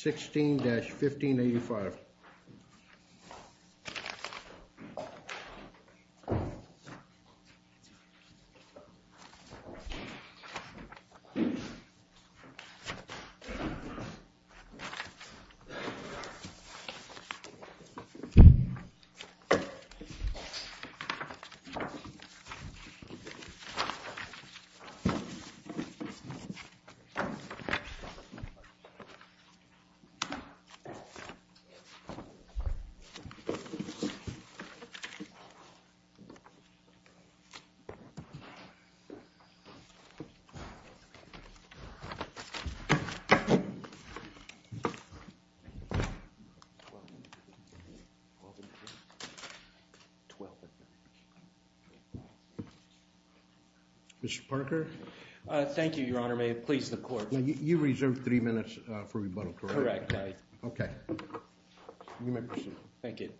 16-1585. Mr. Parker? Thank you, Your Honor. Now, you reserved three minutes for rebuttal, correct? Correct, I did. OK. You may proceed. Thank you.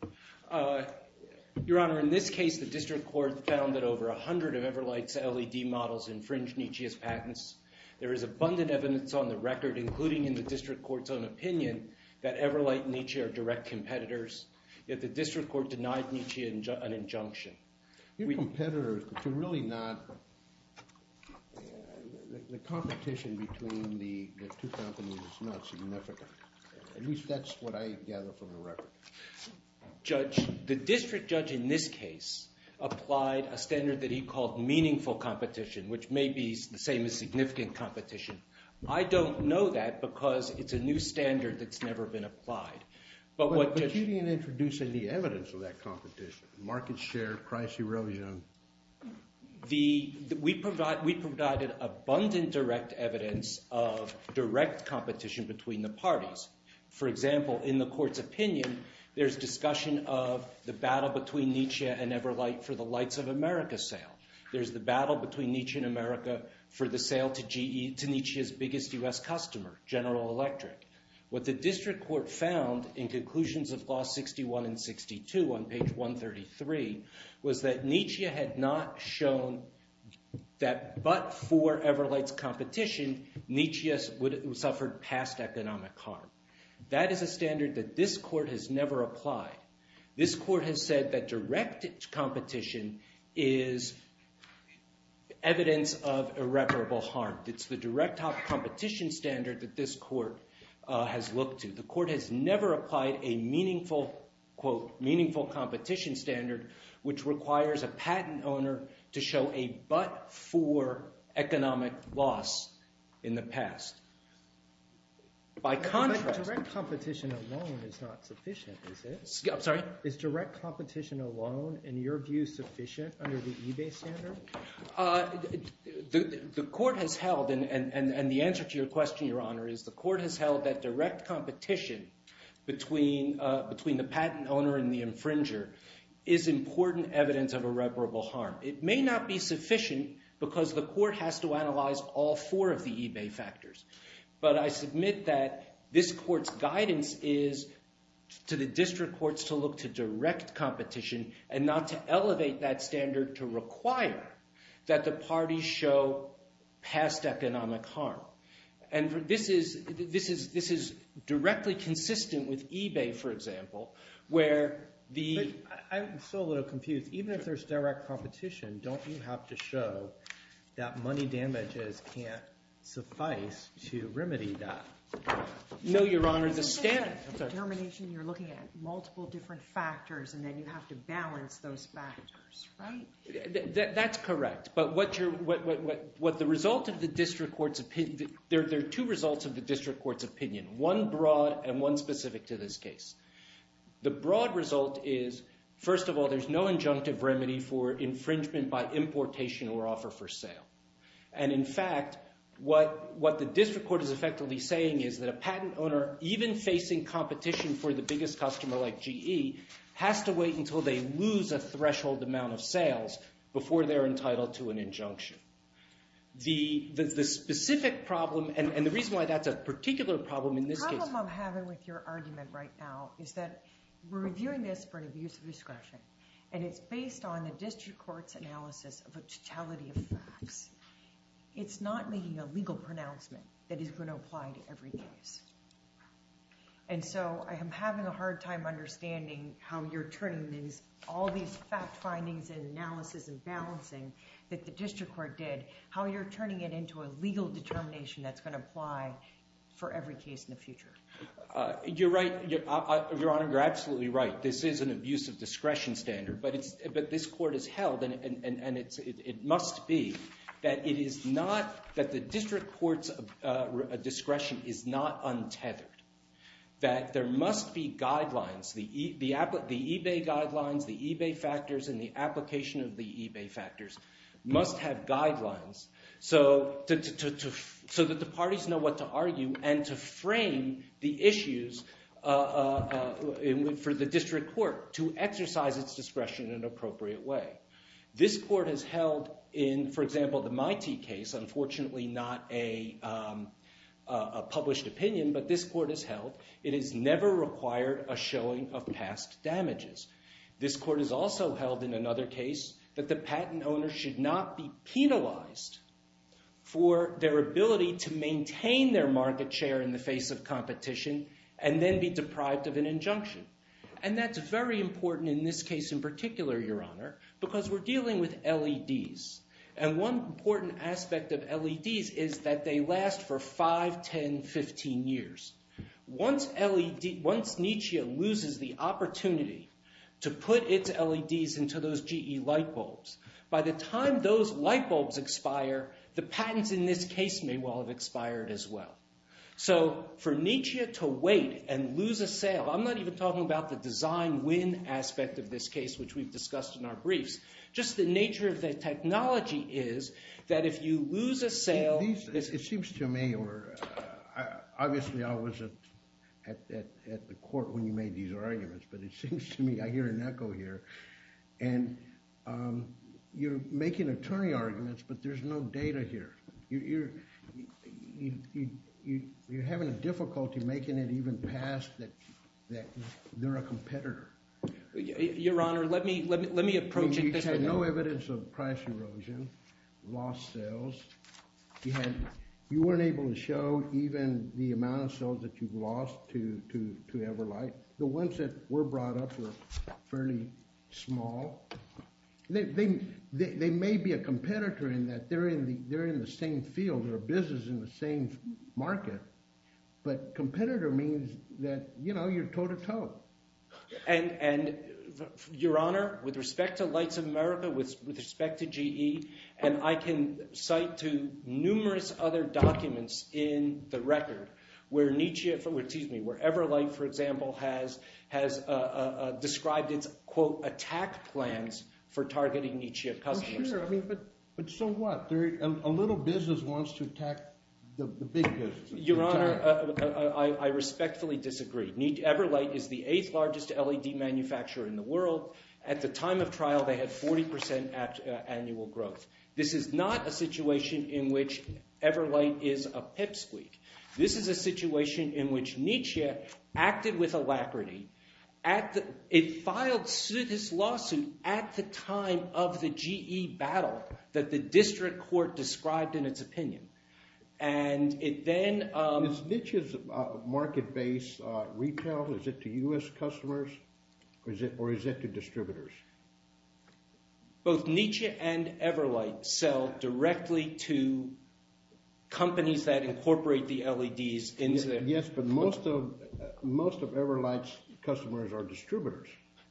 Your Honor, in this case, the district court found that over 100 of Everlight's LED models infringed Nietzsche's patents. There is abundant evidence on the record, including in the district court's own opinion, that Everlight and Nietzsche are direct competitors. Yet the district court denied Nietzsche an injunction. You're competitors, but you're really not The competition between the two companies is not significant. At least, that's what I gather from the record. Judge, the district judge in this case applied a standard that he called meaningful competition, which may be the same as significant competition. I don't know that, because it's a new standard that's never been applied. But you didn't introduce any evidence of that competition. Market share, price erosion. We provided abundant direct evidence of direct competition between the parties. For example, in the court's opinion, there's discussion of the battle between Nietzsche and Everlight for the Lights of America sale. There's the battle between Nietzsche and America for the sale to Nietzsche's biggest US customer, General Electric. What the district court found in conclusions of Clause 61 and 62 on page 133 was that Nietzsche had not shown that, but for Everlight's competition, Nietzsche suffered past economic harm. That is a standard that this court has never applied. This court has said that direct competition is evidence of irreparable harm. It's the direct competition standard that this court has looked to. The court has never applied a meaningful, quote, meaningful competition standard, which requires a patent owner to show a but-for economic loss in the past. By contrast- But direct competition alone is not sufficient, is it? I'm sorry? Is direct competition alone, in your view, sufficient under the eBay standard? The court has held, and the answer to your question, Your Honor, is the court has held that direct competition between the patent owner and the infringer is important evidence of irreparable harm. It may not be sufficient, because the court has to analyze all four of the eBay factors. But I submit that this court's guidance is to the district courts to look to direct competition and not to elevate that standard to require that the parties show past economic harm. And this is directly consistent with eBay, for example, where the- I'm still a little confused. Even if there's direct competition, don't you have to show that money damages can't suffice to remedy that? No, Your Honor, the standard- Isn't that the termination you're looking at, multiple different factors, and then you have to balance those factors, right? That's correct. But what the result of the district court's opinion- there are two results of the district court's opinion, one broad and one specific to this case. The broad result is, first of all, there's no injunctive remedy for infringement by importation or offer for sale. And in fact, what the district court is effectively saying is that a patent owner, even facing competition for the biggest customer like GE, has to wait until they lose a threshold amount of sales before they're entitled to an injunction. The specific problem, and the reason why that's a particular problem in this case- The problem I'm having with your argument right now is that we're reviewing this for an abuse of discretion, and it's based on the district court's analysis of a totality of facts. It's not making a legal pronouncement that is going to apply to every case. And so I am having a hard time understanding how you're turning all these fact findings and analysis and balancing that the district court did, how you're turning it into a legal determination that's going to apply for every case in the future. You're right, Your Honor. You're absolutely right. This is an abuse of discretion standard. But this court has held, and it must be, that the district court's discretion is not untethered. That there must be guidelines. The eBay guidelines, the eBay factors, and the application of the eBay factors must have guidelines so that the parties know what to argue and to frame the issues for the district court to exercise its discretion in an appropriate way. This court has held in, for example, the MITEI case, unfortunately not a published opinion, but this court has held, it has never required a showing of past damages. This court has also held in another case that the patent owner should not be penalized for their ability to maintain their market share in the face of competition and then be deprived of an injunction. And that's very important in this case in particular, Your Honor, because we're dealing with LEDs. And one important aspect of LEDs is that they last for 5, 10, 15 years. Once NETEA loses the opportunity to put its LEDs into those GE light bulbs, by the time those light bulbs expire, the patents in this case may well have expired as well. So for NETEA to wait and lose a sale, I'm not even talking about the design win aspect of this case, which we've discussed in our briefs. Just the nature of the technology is that if you lose a sale, this is It seems to me, or obviously I was at the court when you made these arguments, but it seems to me I hear an echo here. And you're making attorney arguments, but there's no data here. You're having a difficulty making it even pass that they're a competitor. Your Honor, let me approach it this way. There's no evidence of price erosion, lost sales. You weren't able to show even the amount of sales that you've lost to Everlight. The ones that were brought up were fairly small. They may be a competitor in that they're in the same field, they're a business in the same market. But competitor means that you're toe to toe. And Your Honor, with respect to Lights of America, with respect to GE, and I can cite to numerous other documents in the record where Everlight, for example, has described its, quote, attack plans for targeting Nietzsche of customers. But so what? A little business wants to attack the big business. Your Honor, I respectfully disagree. Everlight is the eighth largest LED manufacturer in the world. At the time of trial, they had 40% annual growth. This is not a situation in which Everlight is a pipsqueak. This is a situation in which Nietzsche acted with alacrity. It filed suit, this lawsuit, at the time of the GE battle that the district court described in its opinion. And it then- Is Nietzsche's market base retail? Is it to US customers? Or is it to distributors? Both Nietzsche and Everlight sell directly to companies that incorporate the LEDs into their- Yes, but most of Everlight's customers are distributors.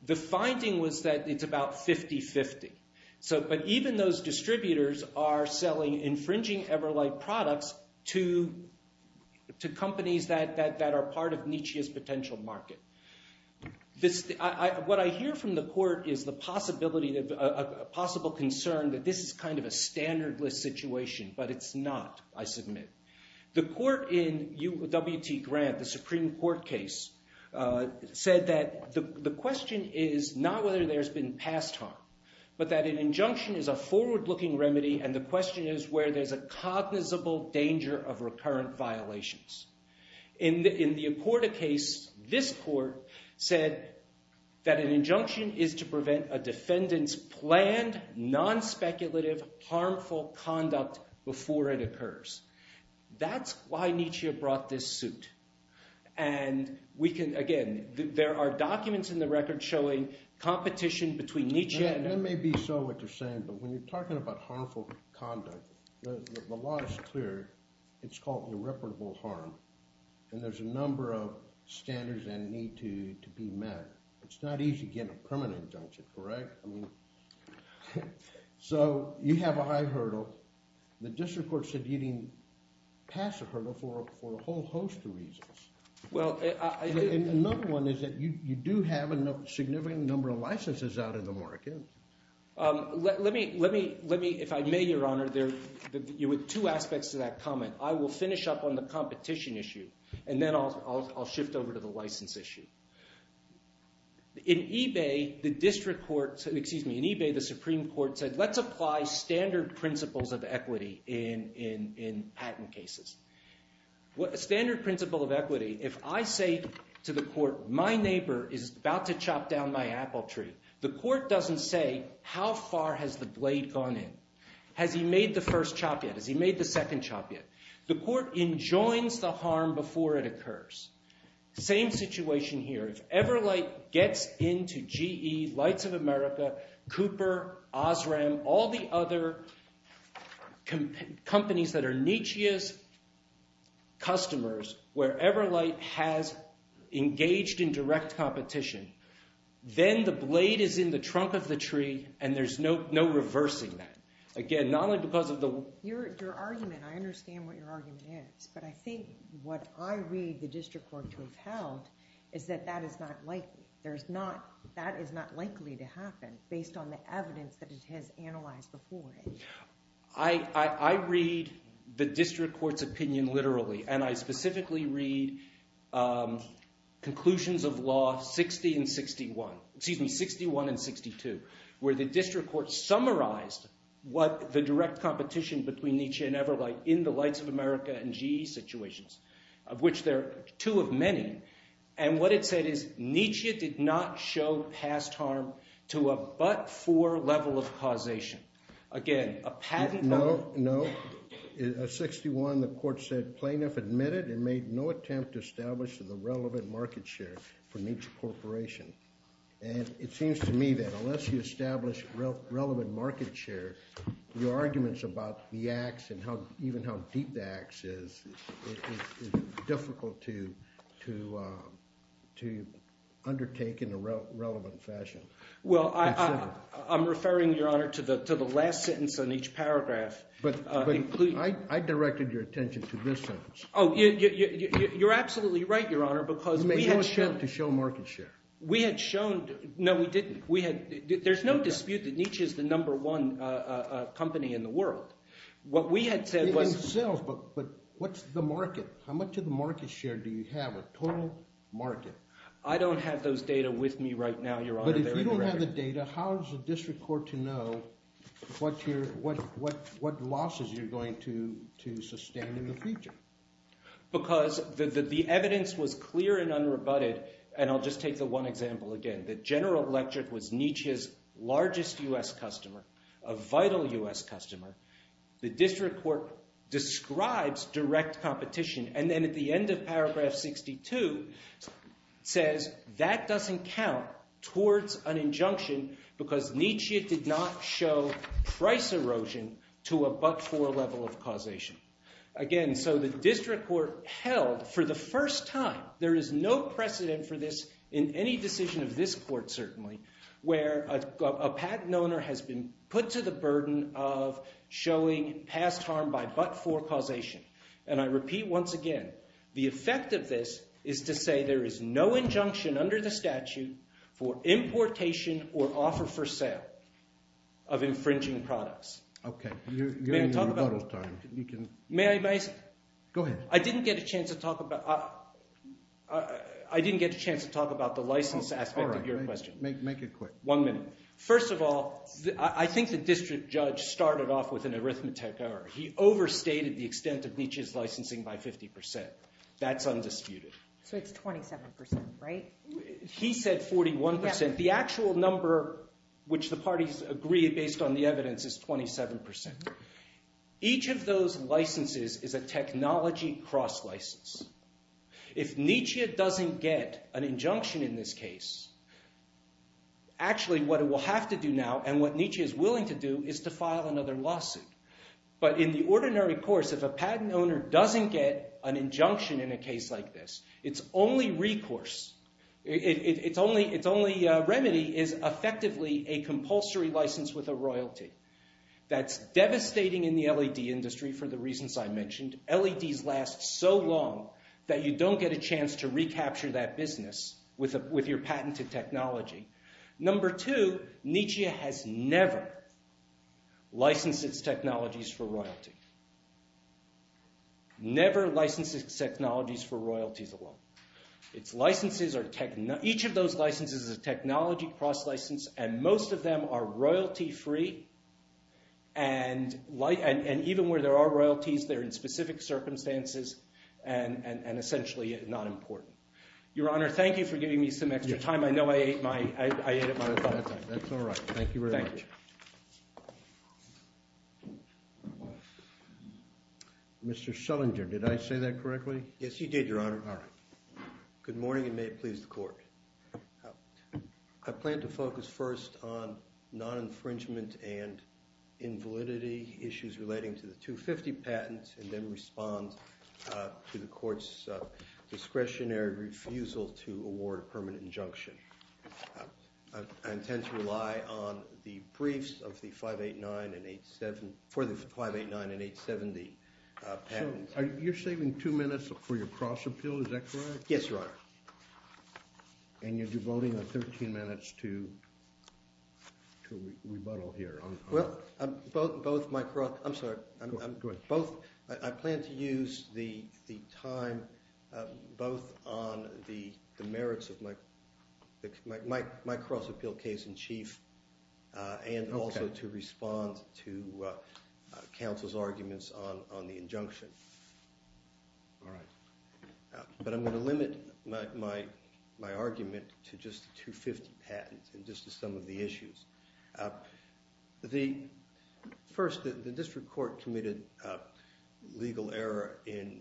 The finding was that it's about 50-50. But even those distributors are selling infringing Everlight products to companies that are part of Nietzsche's potential market. What I hear from the court is the possibility, a possible concern that this is kind of a standardless situation. But it's not, I submit. The court in UWT Grant, the Supreme Court case, said that the question is not whether there's been past harm, but that an injunction is a forward-looking remedy. And the question is where there's a cognizable danger of recurrent violations. In the Accorda case, this court said that an injunction is to prevent a defendant's planned, non-speculative, harmful conduct before it occurs. That's why Nietzsche brought this suit. And we can, again, there are documents in the record That may be so, what you're saying. But when you're talking about harmful conduct, the law is clear. It's called irreparable harm. And there's a number of standards that need to be met. It's not easy to get a permanent injunction, correct? So you have a high hurdle. The district court said you didn't pass a hurdle for a whole host of reasons. Well, I did. Another one is that you do have a significant number of licenses out in the market. Let me, if I may, Your Honor, two aspects to that comment. I will finish up on the competition issue, and then I'll shift over to the license issue. In eBay, the Supreme Court said, let's apply standard principles of equity in patent cases. Standard principle of equity, if I say to the court, my neighbor is about to chop down my apple tree, the court doesn't say, how far has the blade gone in? Has he made the first chop yet? Has he made the second chop yet? The court enjoins the harm before it occurs. Same situation here. If Everlight gets into GE, Lights of America, Cooper, Osram, all the other companies that are Nietzsche's customers, where Everlight has engaged in direct competition, then the blade is in the trunk of the tree, and there's no reversing that. Again, not only because of the- Your argument, I understand what your argument is. But I think what I read the district court to have held is that that is not likely. That is not likely to happen based on the evidence that it has analyzed before. I read the district court's opinion literally, and I specifically read conclusions of law 61 and 62, where the district court summarized what the direct competition between Nietzsche and Everlight in the Lights of America and GE situations, of which there are two of many. And what it said is, Nietzsche did not show past harm to a but-for level of causation. Again, a patent- No, no. 61, the court said, plaintiff admitted and made no attempt to establish the relevant market share for Nietzsche Corporation. And it seems to me that unless you establish relevant market share, your arguments about the ax and even how deep the ax is, it's difficult to undertake in a relevant fashion. Well, I'm referring, Your Honor, to the last sentence in each paragraph. But I directed your attention to this sentence. Oh, you're absolutely right, Your Honor, because we had- You made no attempt to show market share. We had shown- no, we didn't. There's no dispute that Nietzsche is the number one company in the world. What we had said was- In sales, but what's the market? How much of the market share do you have, a total market? I don't have those data with me right now, Your Honor. But if you don't have the data, how does the district court to know what losses you're going to sustain in the future? Because the evidence was clear and unrebutted. And I'll just take the one example again. The general electorate was Nietzsche's largest US customer, a vital US customer. The district court describes direct competition. And then at the end of paragraph 62, says that doesn't count towards an injunction because Nietzsche did not show price erosion to a but-for level of causation. Again, so the district court held, for the first time, there is no precedent for this in any decision of this court, certainly, where a patent owner has been put to the burden of showing past harm by but-for causation. And I repeat once again, the effect of this is to say there is no injunction under the statute for importation or offer for sale of infringing products. OK, you're in rebuttal time. May I say something? Go ahead. I didn't get a chance to talk about the license aspect of your question. Make it quick. One minute. First of all, I think the district judge started off with an arithmetic error. He overstated the extent of Nietzsche's licensing by 50%. That's undisputed. So it's 27%, right? He said 41%. The actual number, which the parties agree based on the evidence, is 27%. Each of those licenses is a technology cross-license. If Nietzsche doesn't get an injunction in this case, actually, what it will have to do now, and what Nietzsche is willing to do, is to file another lawsuit. But in the ordinary course, if a patent owner doesn't get an injunction in a case like this, its only recourse, its only remedy, is effectively a compulsory license with a royalty. That's devastating in the LED industry, for the reasons I mentioned. LEDs last so long that you don't get a chance to recapture that business with your patented technology. Number two, Nietzsche has never licensed its technologies for royalty. Never licensed its technologies for royalties alone. Its licenses are technology. Each of those licenses is a technology cross-license. And most of them are royalty-free. And even where there are royalties, they're in specific circumstances and, essentially, not important. Your Honor, thank you for giving me some extra time. I know I ate up my time. That's all right. Thank you very much. Thank you. Mr. Schellinger, did I say that correctly? Yes, you did, Your Honor. All right. Good morning, and may it please the court. I plan to focus first on non-infringement and invalidity issues relating to the 250 patent, and then respond to the court's discretionary refusal to award a permanent injunction. I intend to rely on the briefs for the 589 and 870 patents. You're saving two minutes for your cross-appeal. Is that correct? Yes, Your Honor. And you're devoting 13 minutes to rebuttal here. Well, I plan to use the time both on the merits of my cross-appeal case in chief and also to respond to counsel's arguments on the injunction. All right. But I'm going to limit my argument to just the 250 patents and just to some of the issues. The first, the district court committed legal error in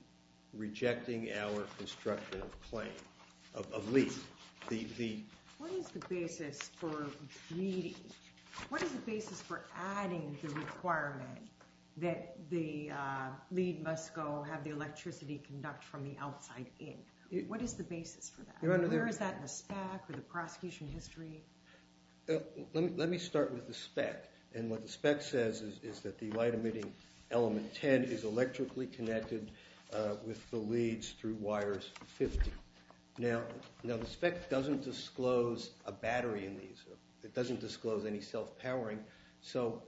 rejecting our constructive claim of LEED. What is the basis for LEEDing? What is the basis for adding the requirement that the LEED must go have the electricity conduct from the outside in? What is the basis for that? Where is that in the spec or the prosecution history? Let me start with the spec. And what the spec says is that the light emitting element 10 is electrically connected with the LEEDs through wires 50. Now, the spec doesn't disclose a battery in these. It doesn't disclose any self-powering. So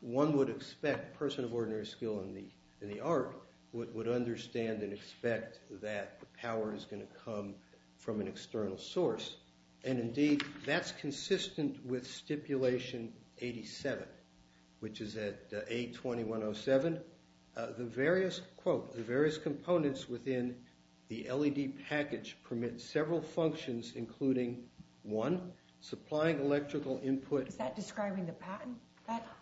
one would expect a person of ordinary skill in the art would understand and expect that the power is going to come from an external source. And indeed, that's consistent with stipulation 87, which is at A2107. The various, quote, the various components within the LEED package permit several functions, including one, supplying electrical input. Is that describing the patent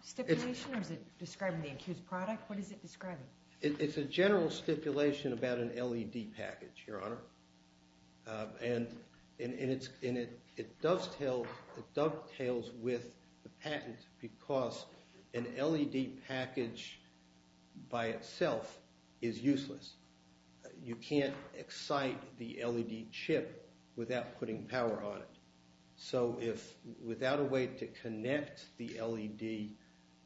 stipulation? Or is it describing the accused product? What is it describing? It's a general stipulation about an LEED package, Your Honor. And it dovetails with the patent because an LEED package by itself is useless. You can't excite the LEED chip without putting power on it. So if without a way to connect the LEED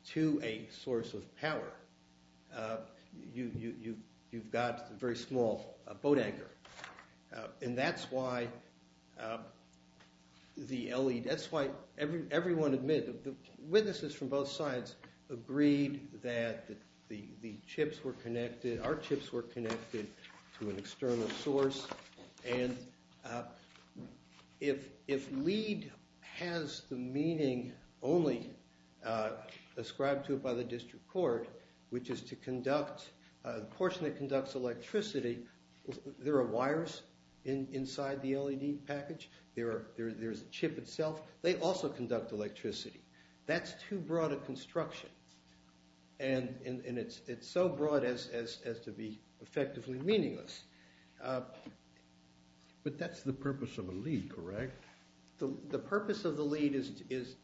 to a source of power, you've got a very small boat anchor. And that's why the LEED, that's why everyone admitted that the witnesses from both sides agreed that the chips were connected, our chips were connected to an external source. And if LEED has the meaning only ascribed to it by the district court, which is to conduct a portion that conducts electricity, there are wires inside the LEED package. There is a chip itself. They also conduct electricity. That's too broad a construction. And it's so broad as to be effectively meaningless. But that's the purpose of a LEED, correct? The purpose of the LEED is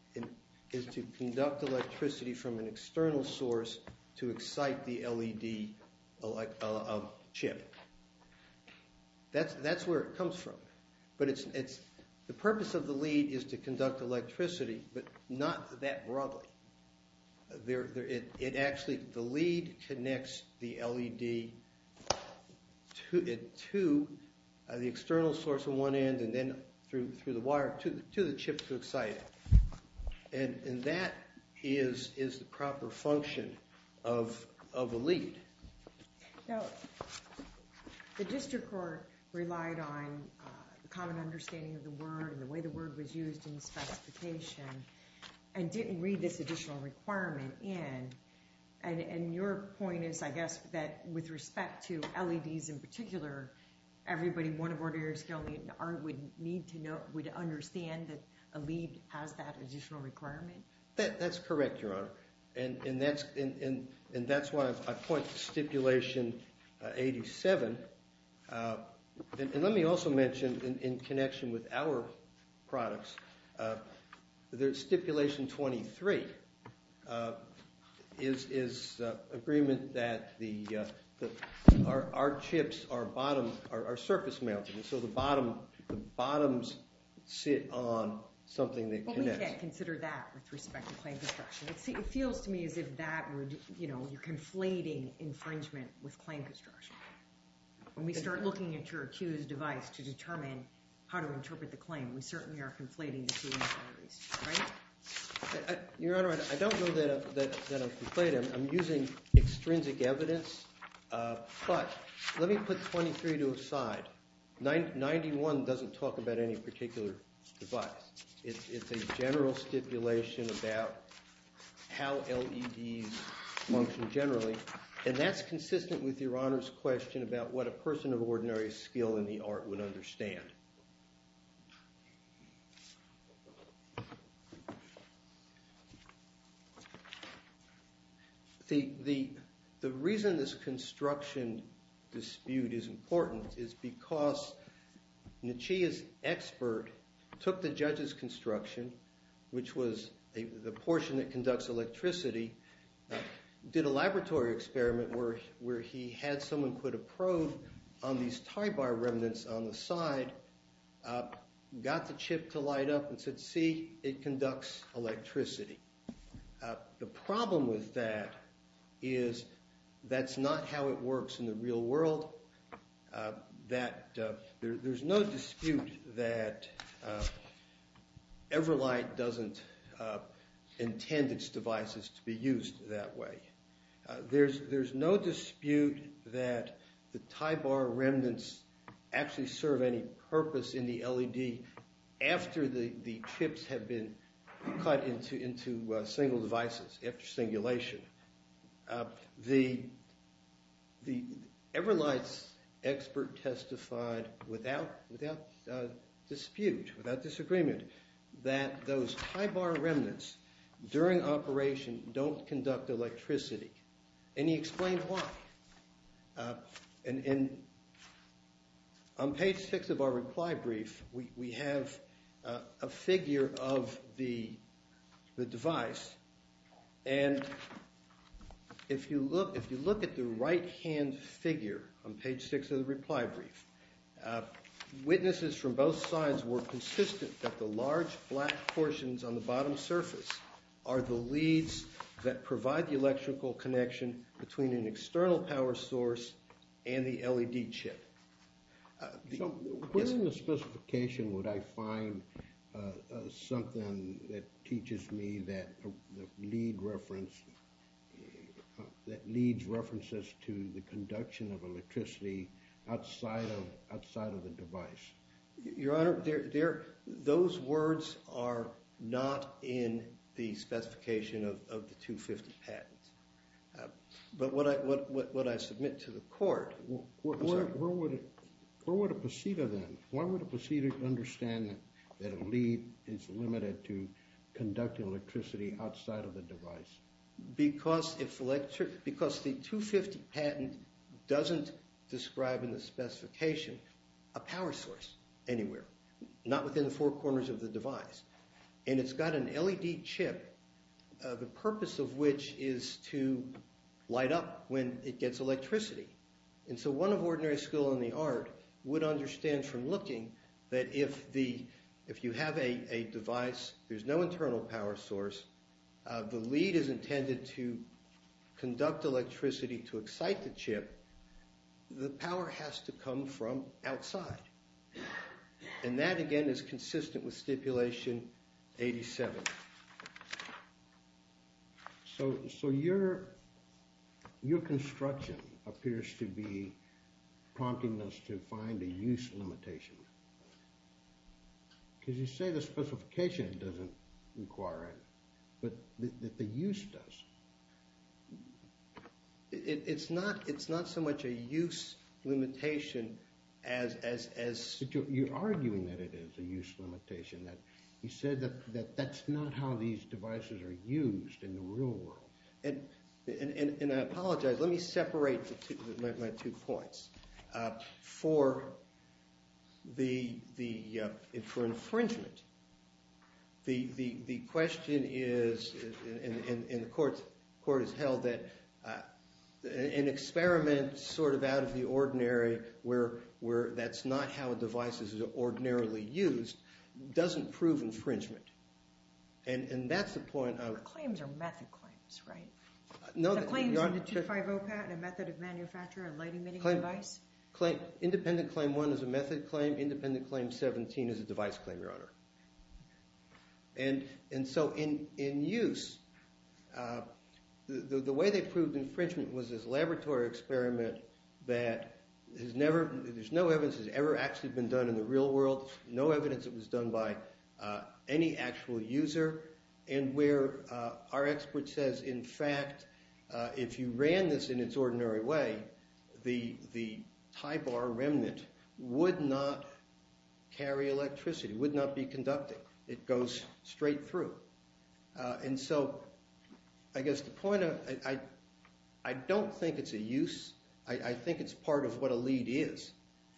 to conduct electricity from an external source to excite the LED chip. That's where it comes from. But the purpose of the LEED is to conduct electricity, but not that broadly. It actually, the LEED connects the LED to the external source on one end, and then through the wire to the chip to excite it. And that is the proper function of a LEED. Now, the district court relied on the common understanding of the word and the way the word was used in the specification and didn't read this additional requirement in. And your point is, I guess, that with respect to LEDs in particular, everybody, one of our lawyers would need to know, would understand that a LEED has that additional requirement? That's correct, Your Honor. And that's why I point to Stipulation 87. And let me also mention, in connection with our products, Stipulation 23 is agreement that our chips are surface-mounted. So the bottoms sit on something that connects. Well, we can't consider that with respect to claim construction. It feels to me as if that would, you're conflating infringement with claim construction. When we start looking at your accused device to determine how to interpret the claim, we certainly are conflating the two categories, right? Your Honor, I don't know that I've conflated them. I'm using extrinsic evidence. But let me put 23 to a side. 91 doesn't talk about any particular device. It's a general stipulation about how LEDs function generally. And that's consistent with Your Honor's question about what a person of ordinary skill in the art would understand. The reason this construction dispute is important is because Nachia's expert took the judge's construction, which was the portion that conducts electricity, did a laboratory experiment where he had someone put a probe on these tie bar and got the chip to light up and said, see, it conducts electricity. The problem with that is that's not how it works in the real world, that there's no dispute that Everlight doesn't intend its devices to be used that way. There's no dispute that the tie bar remnants actually serve any purpose in the LED after the chips have been cut into single devices, after singulation. The Everlight's expert testified without dispute, without disagreement, that those tie bar remnants during operation don't conduct electricity. And he explained why. And on page six of our reply brief, we have a figure of the device. And if you look at the right-hand figure on page six of the reply brief, witnesses from both sides were consistent that the large black portions on the bottom surface are the leads that provide the electrical connection between an external power source and the LED chip. So what in the specification would I find something that teaches me that leads references to the conduction of electricity outside of the device? Your Honor, those words are not in the specification of the 250 patent. But what I submit to the court is I'm sorry. Where would a procedure then? Why would a procedure understand that a lead is limited to conduct electricity outside of the device? Because the 250 patent doesn't describe in the specification a power source anywhere, not within the four corners of the device. And it's got an LED chip, the purpose of which is to light up when it gets electricity. And so one of ordinary school in the art would understand from looking that if you have a device, there's no internal power source, the lead is intended to conduct electricity to excite the chip, the power has to come from outside. And that, again, is consistent with stipulation 87. So your construction appears to be prompting us to find a use limitation. Because you say the specification doesn't require it, but that the use does. It's not so much a use limitation as a use limitation. You're arguing that it is a use limitation. You said that that's not how these devices are used in the real world. And I apologize. Let me separate my two points. For infringement, the question is, and the court has held that, an experiment sort of out of the ordinary, where that's not how a device is ordinarily used, doesn't prove infringement. And that's the point of. Claims are method claims, right? No, they're not. The claims in the 250PAT, a method of manufacture and light emitting device? Independent claim one is a method claim. Independent claim 17 is a device claim, Your Honor. And so in use, the way they proved infringement was this laboratory experiment that there's no evidence it's ever actually been done in the real world. No evidence it was done by any actual user. And where our expert says, in fact, if you ran this in its ordinary way, the high bar remnant would not carry electricity, would not be conducting. It goes straight through. And so I guess the point of, I don't think it's a use. I think it's part of what a lead is.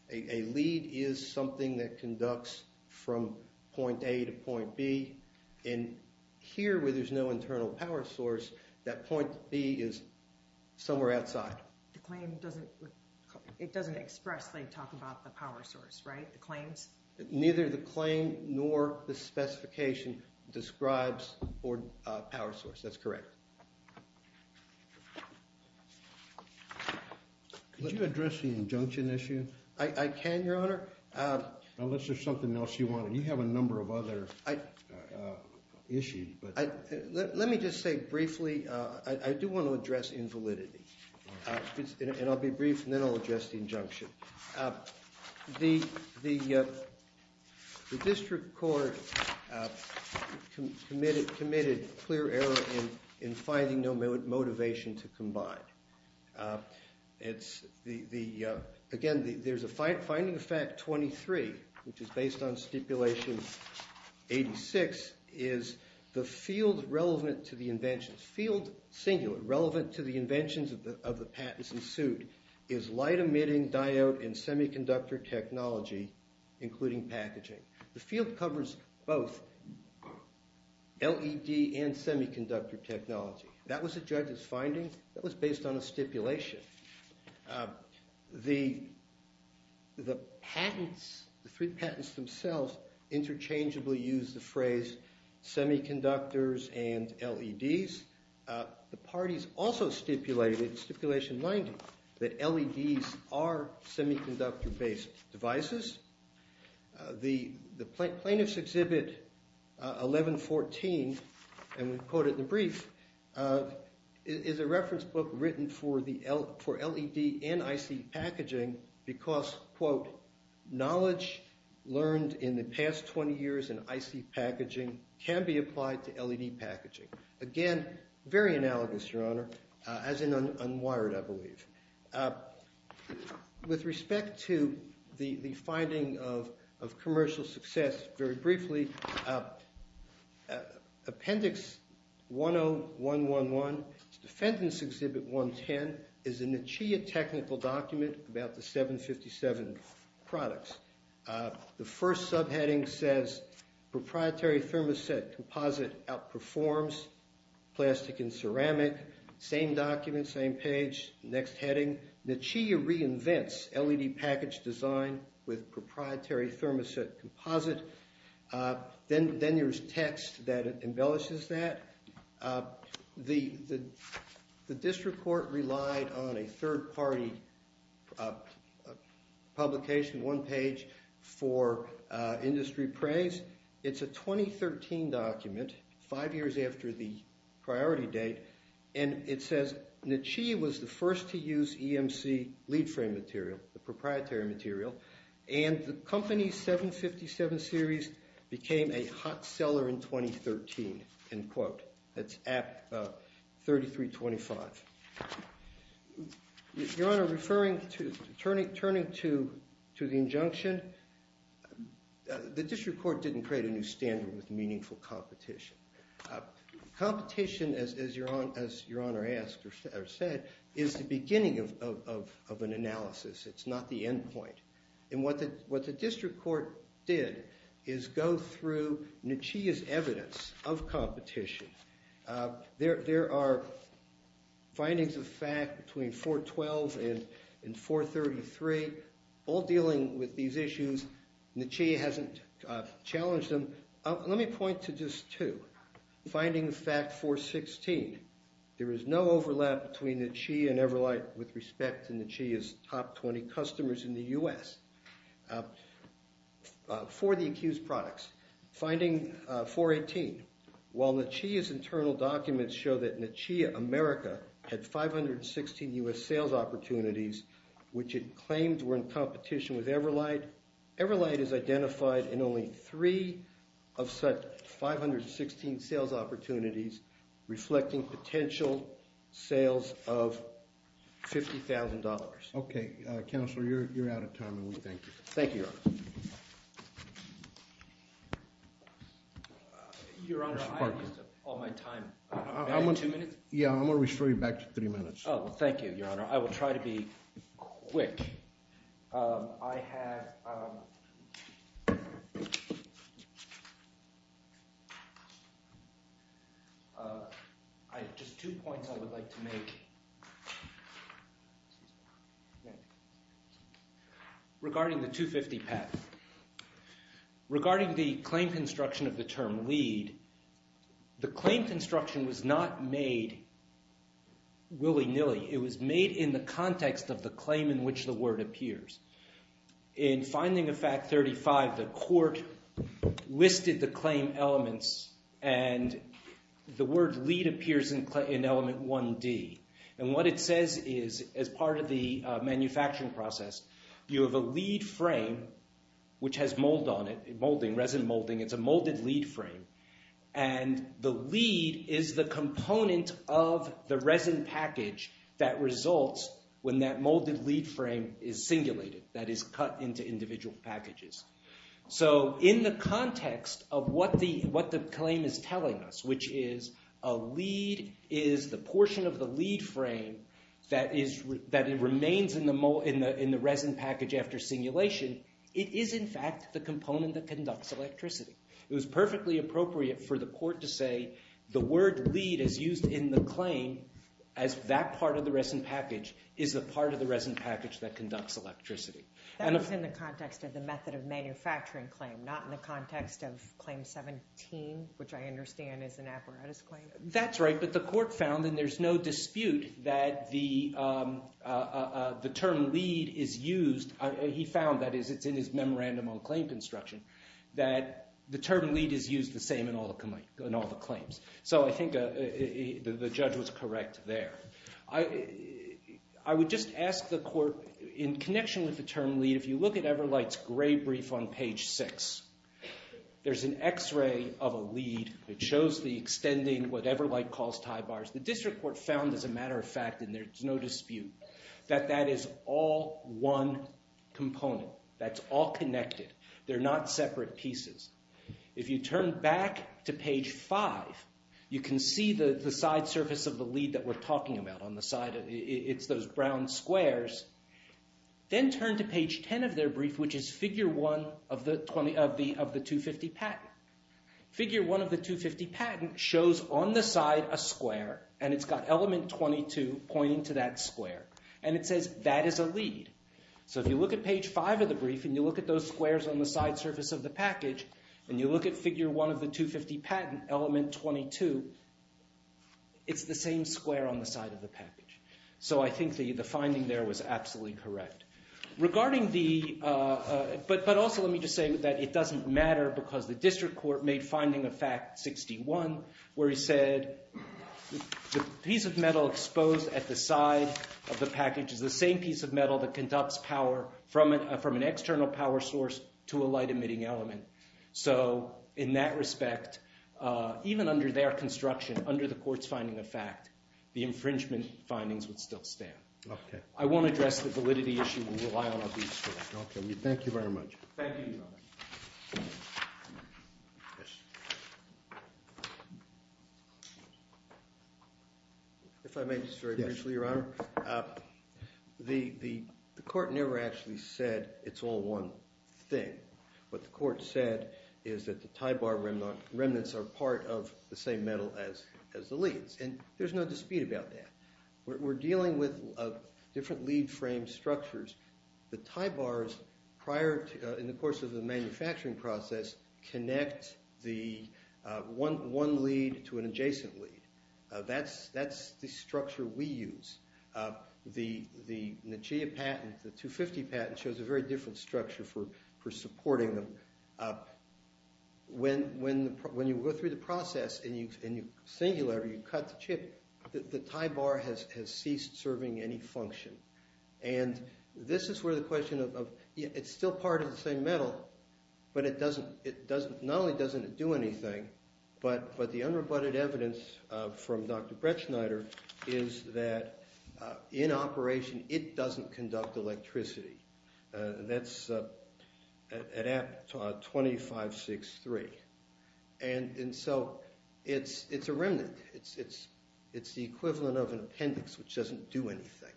A lead is something that conducts from point A to point B. And here, where there's no internal power source, that point B is somewhere outside. The claim doesn't, it doesn't expressly talk about the power source, right? The claims? Neither the claim nor the specification describes a power source. That's correct. Could you address the injunction issue? I can, Your Honor. Unless there's something else you want. And you have a number of other issues. Let me just say briefly, I do want to address invalidity. And I'll be brief, and then I'll address the injunction. The district court committed clear error in finding no motivation to combine. Again, there's a finding of fact 23, which is based on stipulation 86, is the field relevant to the inventions, field singular, relevant to the inventions of the patents in suit, is light emitting diode and semiconductor technology, including packaging. The field covers both LED and semiconductor technology. That was the judge's finding. That was based on a stipulation. The patents, the three patents themselves, interchangeably use the phrase semiconductors and LEDs. The parties also stipulated, stipulation 90, that LEDs are semiconductor-based devices. The plaintiff's exhibit 1114, and we quote it in the brief, is a reference book written for LED and IC packaging because, quote, knowledge learned in the past 20 years in IC packaging can be applied to LED packaging. Again, very analogous, Your Honor, as in unwired, I believe. With respect to the finding of commercial success, very briefly, appendix 10111, defendant's exhibit 110 is a NICHEA technical document about the 757 products. The first subheading says, proprietary thermoset composite outperforms plastic and ceramic. Same document, same page. Next heading, NICHEA reinvents LED package design with proprietary thermoset composite. Then there's text that embellishes that. The district court relied on a third party publication, one page, for industry praise. It's a 2013 document, five years after the priority date. And it says, NICHEA was the first to use EMC lead frame material, the proprietary material. And the company's 757 series became a hot seller in 2013, end quote. That's 3325. Your Honor, turning to the injunction, the district court didn't create a new standard with meaningful competition. Competition, as Your Honor asked or said, is the beginning of an analysis. It's not the end point. And what the district court did is go through NICHEA's evidence of competition. There are findings of fact between 412 and 433. All dealing with these issues, NICHEA hasn't challenged them. Let me point to just two. Finding the fact 416. There is no overlap between NICHEA and Everlight with respect to NICHEA's top 20 customers in the US for the accused products. Finding 418. While NICHEA's internal documents show that NICHEA America had 516 US sales opportunities, which it claimed were in competition with Everlight, Everlight is identified in only three of such 516 sales opportunities, reflecting potential sales of $50,000. OK. Counselor, you're out of time, and we thank you. Thank you, Your Honor. Your Honor, I've used up all my time. Two minutes? Yeah, I'm going to restore you back to three minutes. Oh, thank you, Your Honor. I will try to be quick. I have just two points I would like to make. Regarding the 250 path, regarding the claim construction of the term lead, the claim construction was not made willy-nilly. It was made in the context of the claim in which the word appears. In finding the fact 35, the court listed the claim elements, and the word lead appears in element 1D. And what it says is, as part of the manufacturing process, you have a lead frame which has mold on it, molding, resin molding. It's a molded lead frame. And the lead is the component of the resin package that results when that molded lead frame is singulated, that is cut into individual packages. So in the context of what the claim is telling us, which is a lead is the portion of the lead frame that remains in the resin package after singulation, it is, in fact, the component that conducts electricity. It was perfectly appropriate for the court to say the word lead is used in the claim as that part of the resin package is the part of the resin package that conducts electricity. That was in the context of the method of manufacturing claim, not in the context of claim 17, which I understand is an apparatus claim. That's right. But the court found, and there's no dispute, that the term lead is used. He found, that is, it's in his memorandum on claim construction, that the term lead is used the same in all the claims. So I think the judge was correct there. I would just ask the court, in connection with the term lead, if you look at Everlight's gray brief on page 6, there's an X-ray of a lead. It shows the extending, whatever light calls tie bars. The district court found, as a matter of fact, and there's no dispute, that that is all one component. That's all connected. They're not separate pieces. If you turn back to page 5, you can see the side surface of the lead that we're talking about on the side. It's those brown squares. Then turn to page 10 of their brief, which is figure 1 of the 250 patent. Figure 1 of the 250 patent shows, on the side, a square. And it's got element 22 pointing to that square. And it says, that is a lead. So if you look at page 5 of the brief, and you look at those squares on the side surface of the package, and you look at figure 1 of the 250 patent, element 22, it's the same square on the side of the package. So I think the finding there was absolutely correct. Regarding the, but also let me just say that it doesn't matter because the district court made finding of fact 61, where he said, the piece of metal exposed at the side of the package is the same piece of metal that conducts power from an external power source to a light emitting element. So in that respect, even under their construction, under the court's finding of fact, the infringement findings would still stand. I won't address the validity issue. We'll rely on our briefs for that. OK, we thank you very much. Thank you, Your Honor. If I may just very briefly, Your Honor, the court never actually said it's all one thing. What the court said is that the tie bar remnants are part of the same metal as the leads. And there's no dispute about that. We're dealing with different lead frame structures. The tie bars, prior in the course of the manufacturing process, connect the one lead to an adjacent lead. That's the structure we use. The Nachea patent, the 250 patent, shows a very different structure for supporting them. When you go through the process and you singularly cut the chip, the tie bar has ceased serving any function. And this is where the question of it's still part of the same metal, but not only doesn't it do anything, but the unrebutted evidence from Dr. Bretschneider is that in operation, it doesn't conduct electricity. That's at 2563. And so it's a remnant. It's the equivalent of an appendix, which doesn't do anything.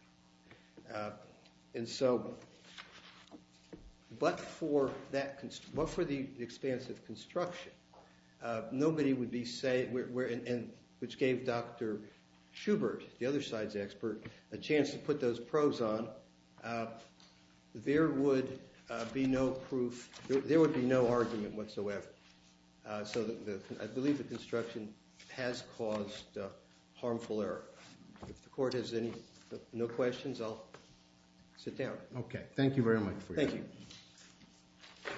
And so but for the expanse of construction, nobody would be saying, which gave Dr. Schubert, the other side's expert, a chance to put those probes on, there would be no proof. There would be no argument whatsoever. So I believe the construction has caused harmful error. If the court has no questions, I'll sit down. OK, thank you very much. Thank you.